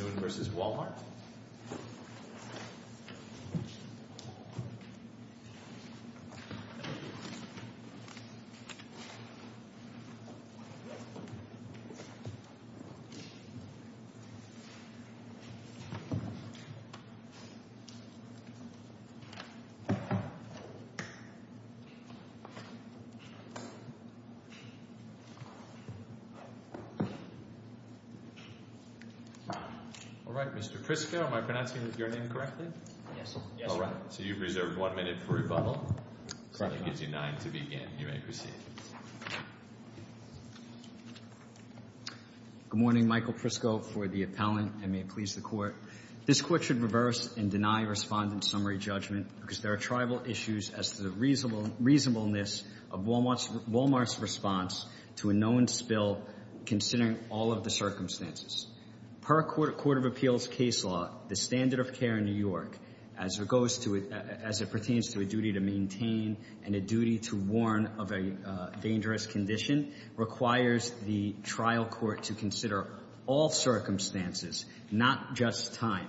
Kissoon v. Wal-Mart All right, Mr. Prisco, am I pronouncing your name correctly? Yes, sir. All right, so you've reserved one minute for rebuttal. Correct. So that gives you nine to begin. You may proceed. Good morning, Michael Prisco for the appellant, and may it please the Court. This Court should reverse and deny respondent summary judgment because there are tribal issues as to the reasonableness of Wal-Mart's response to a known spill, considering all of the circumstances. Per Court of Appeals case law, the standard of care in New York, as it pertains to a duty to maintain and a duty to warn of a dangerous condition, requires the trial court to consider all circumstances, not just time.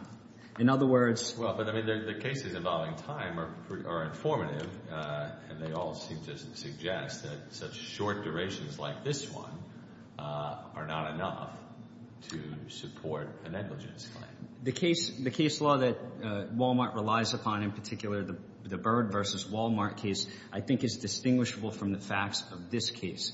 In other words — But, I mean, the cases involving time are informative, and they all seem to suggest that such short durations like this one are not enough to support a negligence claim. The case law that Wal-Mart relies upon, in particular the Byrd v. Wal-Mart case, I think is distinguishable from the facts of this case.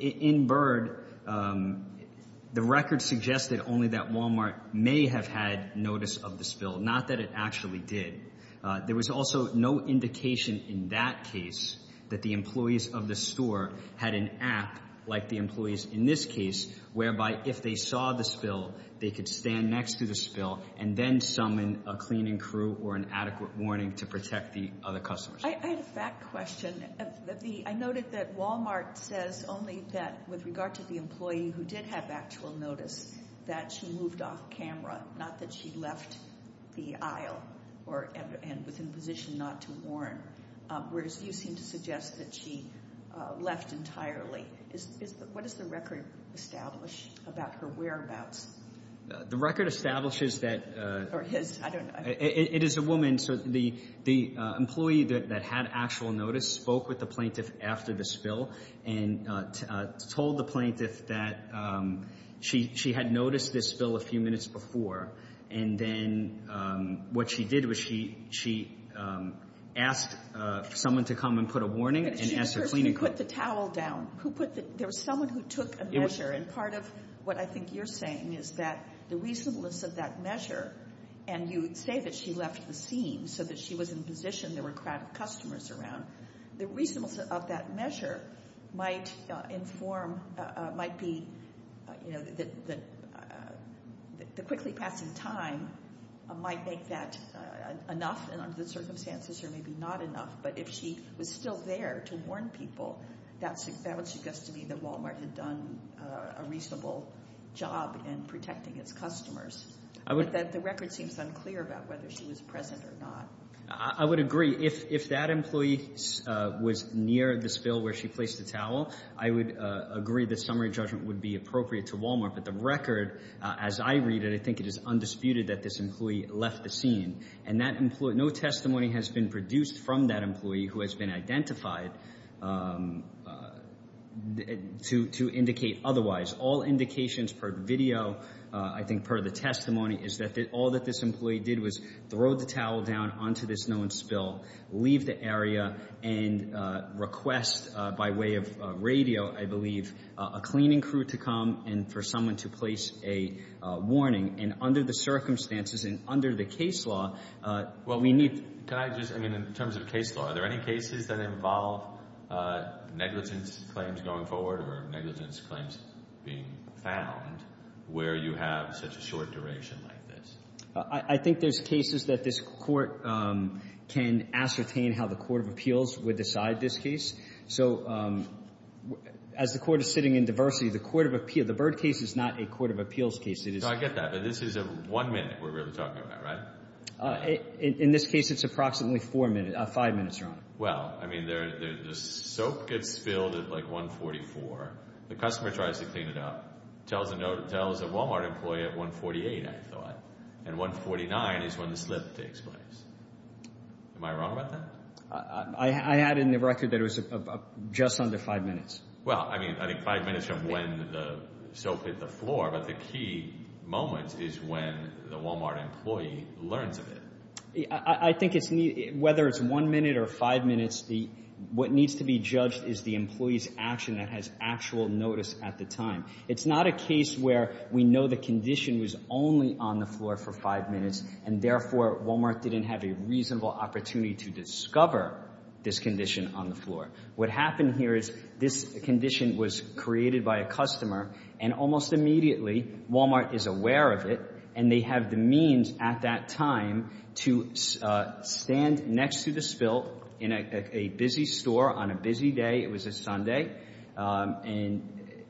In Byrd, the record suggested only that Wal-Mart may have had notice of the spill, not that it actually did. There was also no indication in that case that the employees of the store had an app like the employees in this case, whereby if they saw the spill, they could stand next to the spill and then summon a cleaning crew or an adequate warning to protect the other customers. I had a fact question. I noted that Wal-Mart says only that, with regard to the employee who did have actual notice, that she moved off camera, not that she left the aisle and was in a position not to warn, whereas you seem to suggest that she left entirely. What does the record establish about her whereabouts? The record establishes that — Or his, I don't know. It is a woman. So the employee that had actual notice spoke with the plaintiff after the spill and told the plaintiff that she had noticed the spill a few minutes before, and then what she did was she asked someone to come and put a warning and asked a cleaning crew. But she first put the towel down. There was someone who took a measure, and part of what I think you're saying is that the reasonableness of that measure and you say that she left the scene so that she was in a position there were a crowd of customers around, the reasonableness of that measure might inform, might be that the quickly passing time might make that enough, and under the circumstances it may be not enough, but if she was still there to warn people, that would suggest to me that Wal-Mart had done a reasonable job in protecting its customers. But the record seems unclear about whether she was present or not. I would agree. If that employee was near the spill where she placed the towel, I would agree the summary judgment would be appropriate to Wal-Mart. But the record, as I read it, I think it is undisputed that this employee left the scene, and no testimony has been produced from that employee who has been identified to indicate otherwise. All indications per video, I think per the testimony, is that all that this employee did was throw the towel down onto this known spill, leave the area, and request by way of radio, I believe, a cleaning crew to come and for someone to place a warning. And under the circumstances and under the case law, well, we need— Can I just—I mean, in terms of case law, are there any cases that involve negligence claims going forward or negligence claims being found where you have such a short duration like this? I think there's cases that this Court can ascertain how the court of appeals would decide this case. So as the Court is sitting in diversity, the court of appeal—the Byrd case is not a court of appeals case. It is— I get that. But this is a one-minute we're really talking about, right? In this case, it's approximately four minutes—five minutes, Your Honor. Well, I mean, the soap gets filled at, like, 144. The customer tries to clean it up, tells a Wal-Mart employee at 148, I thought, and 149 is when the slip takes place. Am I wrong about that? I had in the record that it was just under five minutes. Well, I mean, I think five minutes from when the soap hit the floor, but the key moment is when the Wal-Mart employee learns of it. I think it's—whether it's one minute or five minutes, what needs to be judged is the employee's action that has actual notice at the time. It's not a case where we know the condition was only on the floor for five minutes, and therefore Wal-Mart didn't have a reasonable opportunity to discover this condition on the floor. What happened here is this condition was created by a customer, and almost immediately Wal-Mart is aware of it, and they have the means at that time to stand next to the spill in a busy store on a busy day. It was a Sunday. And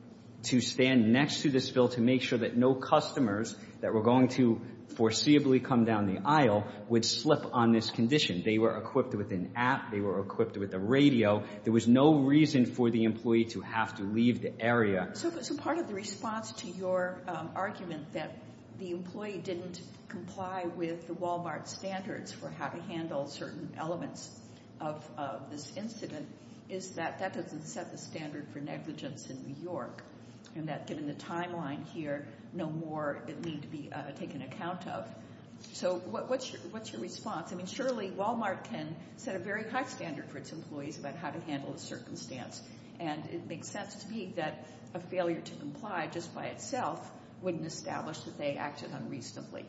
to stand next to the spill to make sure that no customers that were going to foreseeably come down the aisle would slip on this condition. They were equipped with an app. They were equipped with a radio. There was no reason for the employee to have to leave the area. So part of the response to your argument that the employee didn't comply with the Wal-Mart standards for how to handle certain elements of this incident is that that doesn't set the standard for negligence in New York, and that given the timeline here, no more need to be taken account of. So what's your response? I mean, surely Wal-Mart can set a very high standard for its employees about how to handle a circumstance, and it makes sense to me that a failure to comply just by itself wouldn't establish that they acted unreasonably.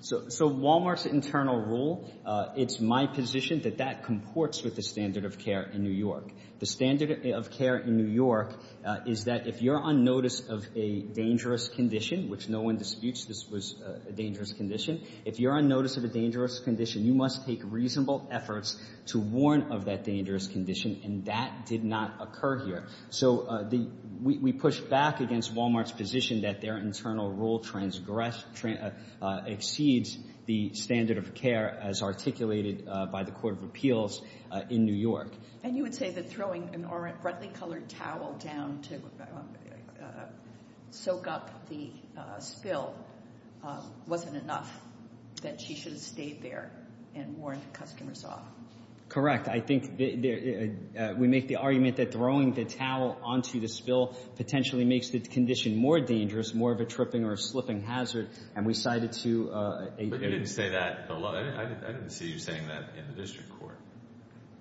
So Wal-Mart's internal rule, it's my position that that comports with the standard of care in New York. The standard of care in New York is that if you're on notice of a dangerous condition, which no one disputes this was a dangerous condition, if you're on notice of a dangerous condition, you must take reasonable efforts to warn of that dangerous condition, and that did not occur here. So we push back against Wal-Mart's position that their internal rule exceeds the standard of care as articulated by the Court of Appeals in New York. And you would say that throwing a red-colored towel down to soak up the spill wasn't enough, that she should have stayed there and warned the customers off. Correct. I think we make the argument that throwing the towel onto the spill potentially makes the condition more dangerous, more of a tripping or a slipping hazard, and we cite it to AP. I didn't see you saying that in the district court,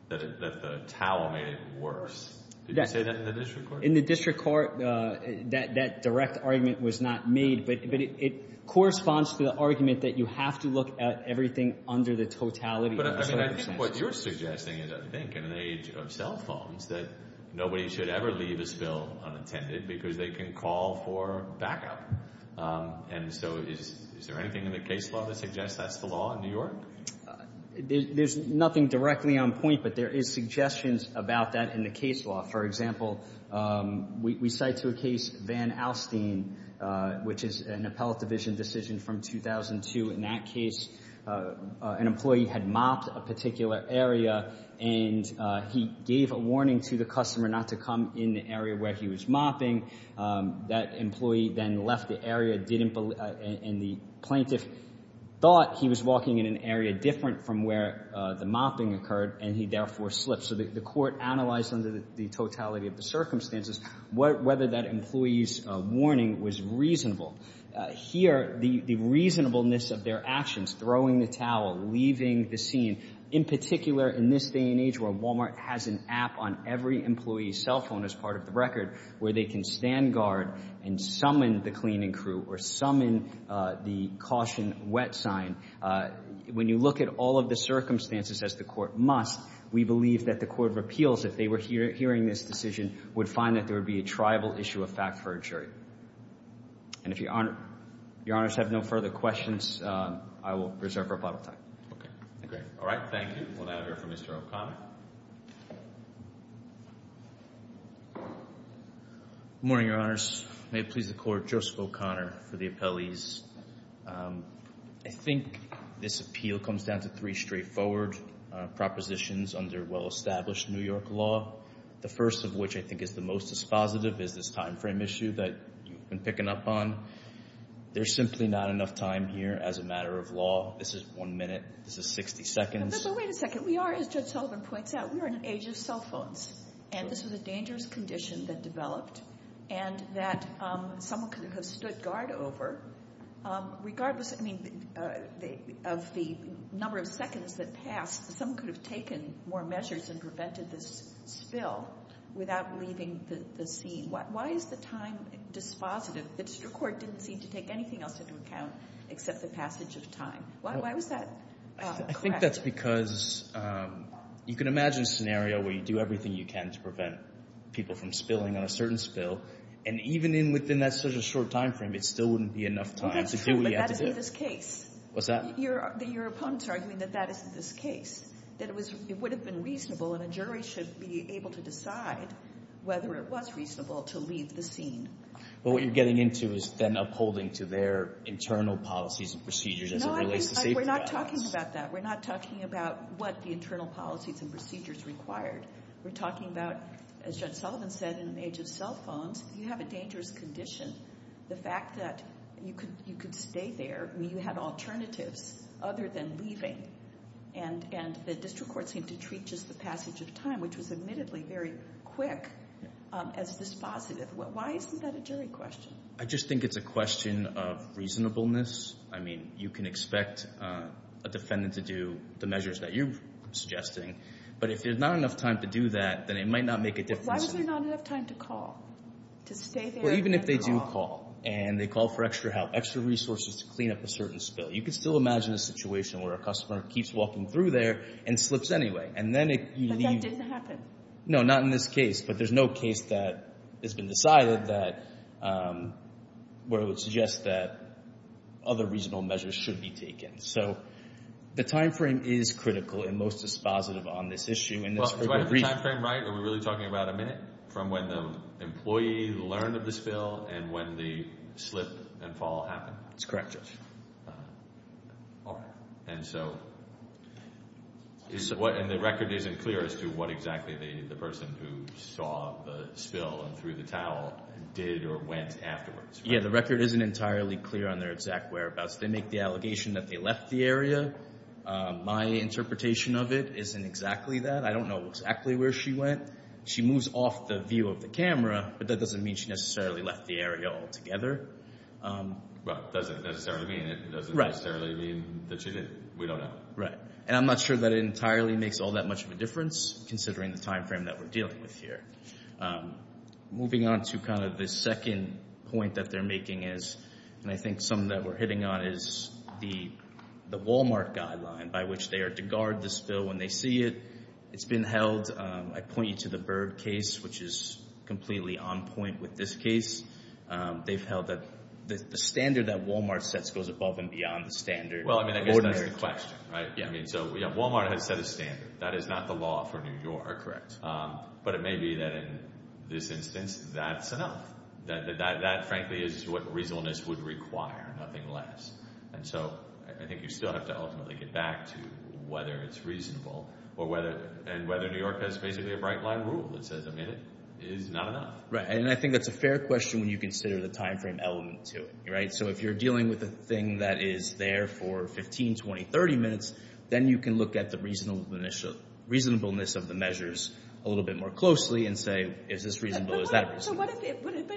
that the towel made it worse. Did you say that in the district court? In the district court, that direct argument was not made, but it corresponds to the argument that you have to look at everything under the totality of the circumstances. What you're suggesting is, I think, in an age of cell phones, that nobody should ever leave a spill unattended because they can call for backup. And so is there anything in the case law that suggests that's the law in New York? There's nothing directly on point, but there is suggestions about that in the case law. For example, we cite to a case Van Alstine, which is an appellate division decision from 2002. In that case, an employee had mopped a particular area, and he gave a warning to the customer not to come in the area where he was mopping. That employee then left the area and the plaintiff thought he was walking in an area different from where the mopping occurred, and he therefore slipped. So the court analyzed under the totality of the circumstances whether that employee's warning was reasonable. Here, the reasonableness of their actions, throwing the towel, leaving the scene, in particular in this day and age where Walmart has an app on every employee's cell phone as part of the record where they can stand guard and summon the cleaning crew or summon the caution wet sign, when you look at all of the circumstances, as the court must, we believe that the court of appeals, if they were hearing this decision, would find that there would be a tribal issue of fact for a jury. And if Your Honors have no further questions, I will reserve our bottle of time. All right. Thank you. We'll now hear from Mr. O'Connor. Good morning, Your Honors. May it please the Court, Joseph O'Connor for the appellees. I think this appeal comes down to three straightforward propositions under well-established New York law, the first of which I think is the most dispositive is this time frame issue that you've been picking up on. There's simply not enough time here as a matter of law. This is one minute. This is 60 seconds. But wait a second. We are, as Judge Sullivan points out, we are in an age of cell phones, and this was a dangerous condition that developed and that someone could have stood guard over. Regardless, I mean, of the number of seconds that passed, someone could have taken more measures and prevented this spill without leaving the scene. Why is the time dispositive? The district court didn't seem to take anything else into account except the passage of time. Why was that correct? I think that's because you can imagine a scenario where you do everything you can to prevent people from spilling on a certain spill. And even within that sort of short time frame, it still wouldn't be enough time to do what you have to do. Well, that's true, but that isn't this case. What's that? Your opponents are arguing that that isn't this case, that it would have been reasonable and a jury should be able to decide whether it was reasonable to leave the scene. But what you're getting into is then upholding to their internal policies and procedures as it relates to safety. No, we're not talking about that. We're not talking about what the internal policies and procedures required. We're talking about, as Judge Sullivan said, in an age of cell phones, you have a dangerous condition. The fact that you could stay there, you had alternatives other than leaving, and the district court seemed to treat just the passage of time, which was admittedly very quick, as dispositive. Why isn't that a jury question? I just think it's a question of reasonableness. I mean, you can expect a defendant to do the measures that you're suggesting, but if there's not enough time to do that, then it might not make a difference. But why was there not enough time to call, to stay there and then call? Well, even if they do call and they call for extra help, extra resources to clean up a certain spill, you can still imagine a situation where a customer keeps walking through there and slips anyway. But that doesn't happen. No, not in this case. But there's no case that has been decided where it would suggest that other reasonable measures should be taken. So the time frame is critical and most dispositive on this issue. Do I have the time frame right? Are we really talking about a minute from when the employee learned of the spill and when the slip and fall happened? It's correct, Judge. All right. And so the record isn't clear as to what exactly the person who saw the spill and threw the towel did or went afterwards. Yeah, the record isn't entirely clear on their exact whereabouts. They make the allegation that they left the area. My interpretation of it isn't exactly that. I don't know exactly where she went. She moves off the view of the camera, but that doesn't mean she necessarily left the area altogether. Well, it doesn't necessarily mean it. It doesn't necessarily mean that she didn't. We don't know. Right. And I'm not sure that it entirely makes all that much of a difference, considering the time frame that we're dealing with here. Moving on to kind of the second point that they're making is, and I think something that we're hitting on, is the Walmart guideline by which they are to guard the spill when they see it. It's been held. I point you to the Byrd case, which is completely on point with this case. They've held that the standard that Walmart sets goes above and beyond the standard. Well, I mean, I guess that's the question, right? So, yeah, Walmart has set a standard. That is not the law for New York. But it may be that in this instance, that's enough. That, frankly, is what reasonableness would require, nothing less. And so I think you still have to ultimately get back to whether it's reasonable and whether New York has basically a bright line rule that says, I mean, it is not enough. Right, and I think that's a fair question when you consider the time frame element to it, right? So if you're dealing with a thing that is there for 15, 20, 30 minutes, then you can look at the reasonableness of the measures a little bit more closely and say, is this reasonable, is that reasonable? But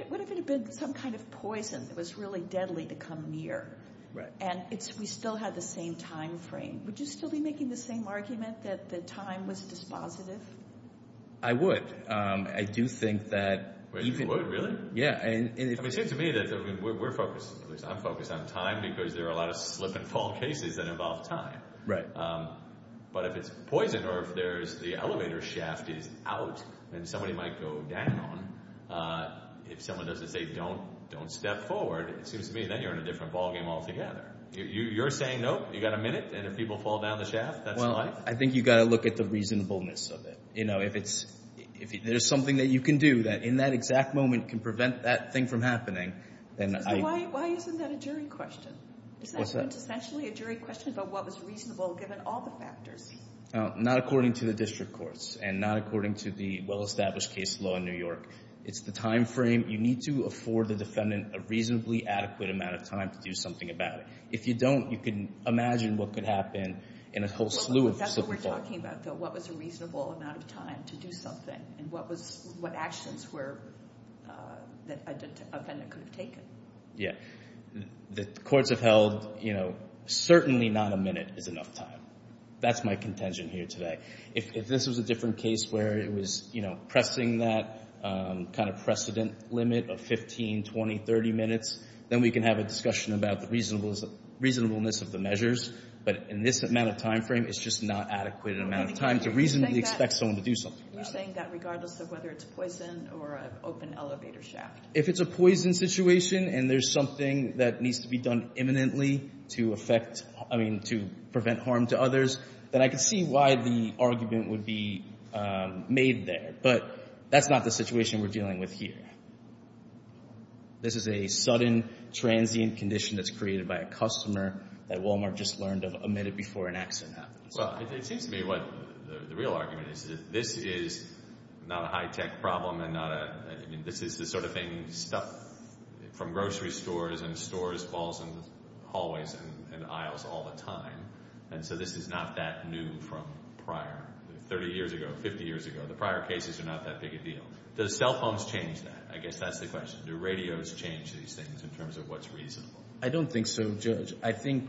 what if it had been some kind of poison that was really deadly to come near? Right. And we still had the same time frame. Would you still be making the same argument that the time was dispositive? I would. I do think that even— Yeah. I mean, it seems to me that we're focused, at least I'm focused on time because there are a lot of slip and fall cases that involve time. Right. But if it's poison or if the elevator shaft is out and somebody might go down, if someone doesn't say don't step forward, it seems to me then you're in a different ballgame altogether. You're saying nope, you've got a minute, and if people fall down the shaft, that's life? Well, I think you've got to look at the reasonableness of it. You know, if there's something that you can do that in that exact moment can prevent that thing from happening, then I— Why isn't that a jury question? What's that? Isn't that essentially a jury question about what was reasonable given all the factors? Not according to the district courts and not according to the well-established case law in New York. It's the time frame. You need to afford the defendant a reasonably adequate amount of time to do something about it. If you don't, you can imagine what could happen in a whole slew of slip and fall. You're talking about, though, what was a reasonable amount of time to do something and what actions were—that a defendant could have taken. Yeah. The courts have held, you know, certainly not a minute is enough time. That's my contention here today. If this was a different case where it was, you know, pressing that kind of precedent limit of 15, 20, 30 minutes, then we can have a discussion about the reasonableness of the measures, but in this amount of time frame, it's just not adequate amount of time to reasonably expect someone to do something about it. You're saying that regardless of whether it's poison or an open elevator shaft. If it's a poison situation and there's something that needs to be done imminently to affect— I mean, to prevent harm to others, then I can see why the argument would be made there. But that's not the situation we're dealing with here. This is a sudden transient condition that's created by a customer that Walmart just learned of a minute before an accident happened. Well, it seems to me what the real argument is that this is not a high-tech problem and not a— I mean, this is the sort of thing stuff from grocery stores and stores falls in the hallways and aisles all the time, and so this is not that new from prior—30 years ago, 50 years ago. The prior cases are not that big a deal. Does cell phones change that? I guess that's the question. Do radios change these things in terms of what's reasonable? I don't think so, Judge. I think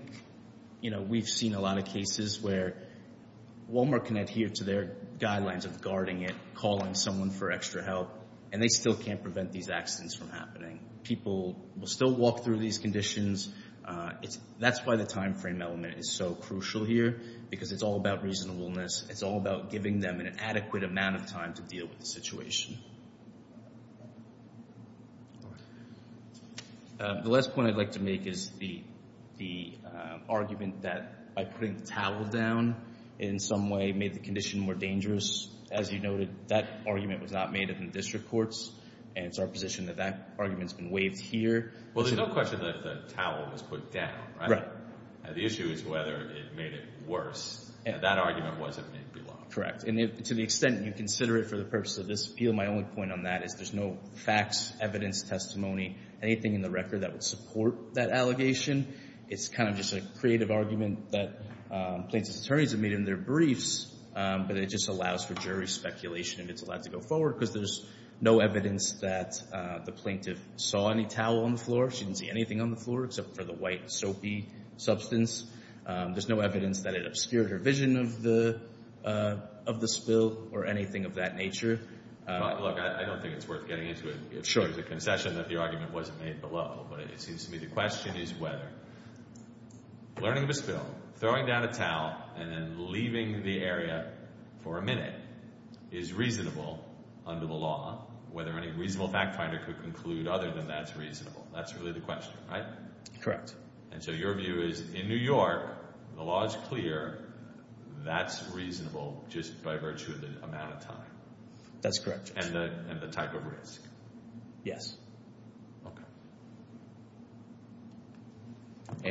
we've seen a lot of cases where Walmart can adhere to their guidelines of guarding it, calling someone for extra help, and they still can't prevent these accidents from happening. People will still walk through these conditions. That's why the time frame element is so crucial here because it's all about reasonableness. It's all about giving them an adequate amount of time to deal with the situation. The last point I'd like to make is the argument that by putting the towel down in some way made the condition more dangerous. As you noted, that argument was not made in the district courts, and it's our position that that argument's been waived here. Well, there's no question that the towel was put down, right? Right. The issue is whether it made it worse. That argument wasn't made below. Correct, and to the extent you consider it for the purpose of this appeal, my only point on that is there's no facts, evidence, testimony, anything in the record that would support that allegation. It's kind of just a creative argument that plaintiff's attorneys have made in their briefs, but it just allows for jury speculation if it's allowed to go forward because there's no evidence that the plaintiff saw any towel on the floor. She didn't see anything on the floor except for the white soapy substance. There's no evidence that it obscured her vision of the spill or anything of that nature. Look, I don't think it's worth getting into it. Sure. It's a concession that the argument wasn't made below, but it seems to me the question is whether learning of a spill, throwing down a towel, and then leaving the area for a minute is reasonable under the law, whether any reasonable fact finder could conclude other than that's reasonable. That's really the question, right? And so your view is in New York, the law is clear. That's reasonable just by virtue of the amount of time. That's correct. And the type of risk. Yes. Okay.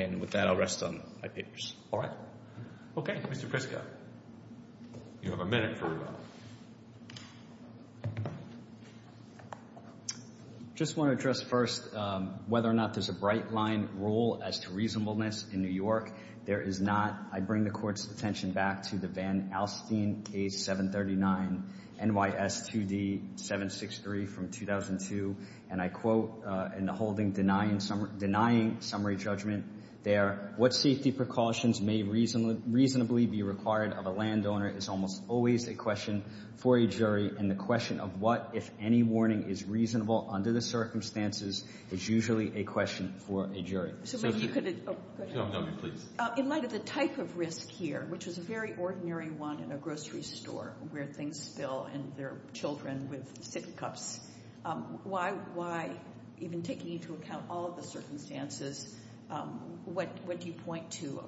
And with that, I'll rest on my papers. All right. Okay. Mr. Crisco, you have a minute for rebuttal. I just want to address first whether or not there's a bright line rule as to reasonableness in New York. There is not. I bring the Court's attention back to the Van Alstine case 739, NYS 2D 763 from 2002, and I quote in the holding denying summary judgment there, What safety precautions may reasonably be required of a landowner is almost always a question for a jury, and the question of what, if any, warning is reasonable under the circumstances is usually a question for a jury. So maybe you could add to that. No, please. In light of the type of risk here, which is a very ordinary one in a grocery store where things spill and there are children with sippy cups, why even taking into account all of the circumstances, what do you point to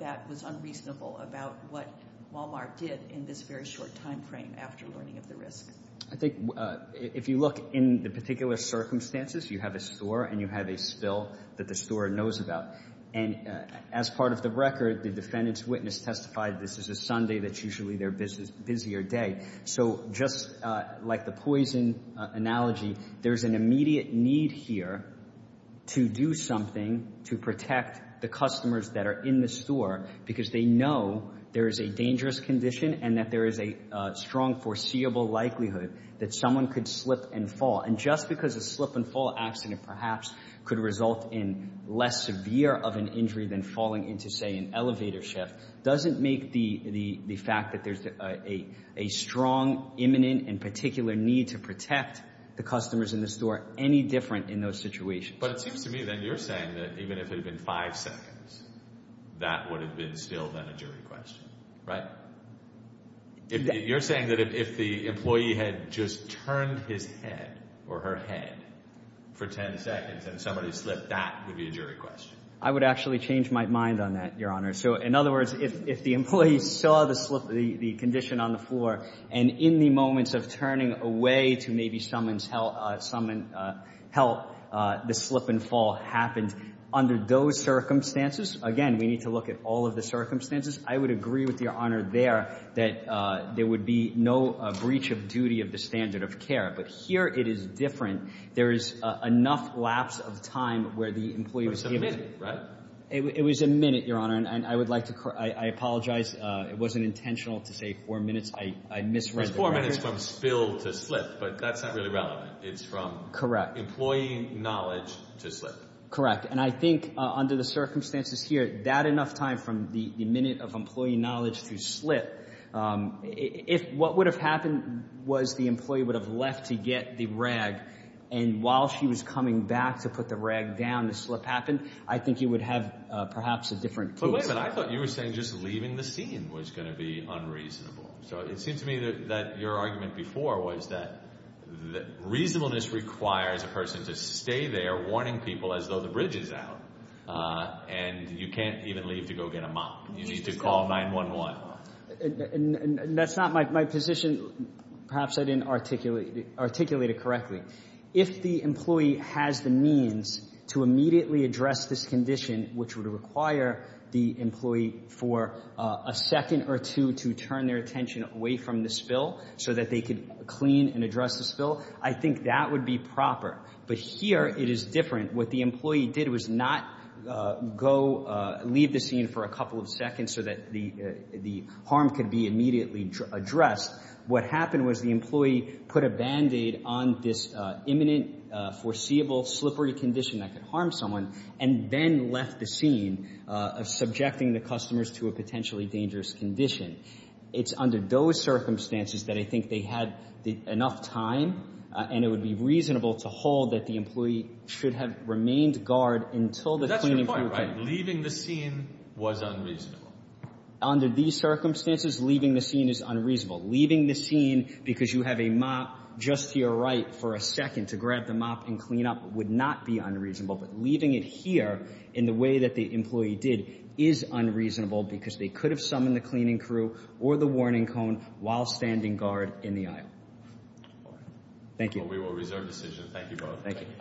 that was unreasonable about what Walmart did in this very short time frame after learning of the risk? I think if you look in the particular circumstances, you have a store and you have a spill that the store knows about. And as part of the record, the defendant's witness testified this is a Sunday that's usually their busier day. So just like the poison analogy, there's an immediate need here to do something to protect the customers that are in the store because they know there is a dangerous condition and that there is a strong foreseeable likelihood that someone could slip and fall. And just because a slip and fall accident perhaps could result in less severe of an injury than falling into, say, an elevator shift, doesn't make the fact that there's a strong, imminent, and particular need to protect the customers in the store any different in those situations. But it seems to me then you're saying that even if it had been five seconds, that would have been still then a jury question, right? You're saying that if the employee had just turned his head or her head for ten seconds and somebody slipped, that would be a jury question? I would actually change my mind on that, Your Honor. So in other words, if the employee saw the slip, the condition on the floor, and in the moments of turning away to maybe someone's help, the slip and fall happened. Under those circumstances, again, we need to look at all of the circumstances. I would agree with Your Honor there that there would be no breach of duty of the standard of care. But here it is different. There is enough lapse of time where the employee was given the opportunity to slip, right? It was a minute, Your Honor. And I would like to – I apologize. It wasn't intentional to say four minutes. I misread the record. It was four minutes from spill to slip, but that's not really relevant. It's from employee knowledge to slip. Correct. And I think under the circumstances here, that enough time from the minute of employee knowledge to slip, if what would have happened was the employee would have left to get the rag, and while she was coming back to put the rag down, the slip happened, I think you would have perhaps a different case. But wait a minute. I thought you were saying just leaving the scene was going to be unreasonable. So it seemed to me that your argument before was that reasonableness requires a person to stay there warning people as though the bridge is out, and you can't even leave to go get a mop. You need to call 911. And that's not my position. Perhaps I didn't articulate it correctly. If the employee has the means to immediately address this condition, which would require the employee for a second or two to turn their attention away from the spill so that they could clean and address the spill, I think that would be proper. But here it is different. What the employee did was not go leave the scene for a couple of seconds so that the harm could be immediately addressed. What happened was the employee put a Band-Aid on this imminent, foreseeable, slippery condition that could harm someone, and then left the scene, subjecting the customers to a potentially dangerous condition. It's under those circumstances that I think they had enough time, and it would be That's your point, right? Leaving the scene was unreasonable. Under these circumstances, leaving the scene is unreasonable. Leaving the scene because you have a mop just to your right for a second to grab the mop and clean up would not be unreasonable. But leaving it here in the way that the employee did is unreasonable because they could have summoned the cleaning crew or the warning cone while standing guard in the aisle. All right. Thank you. Well, we will reserve decision. Thank you both. Thank you.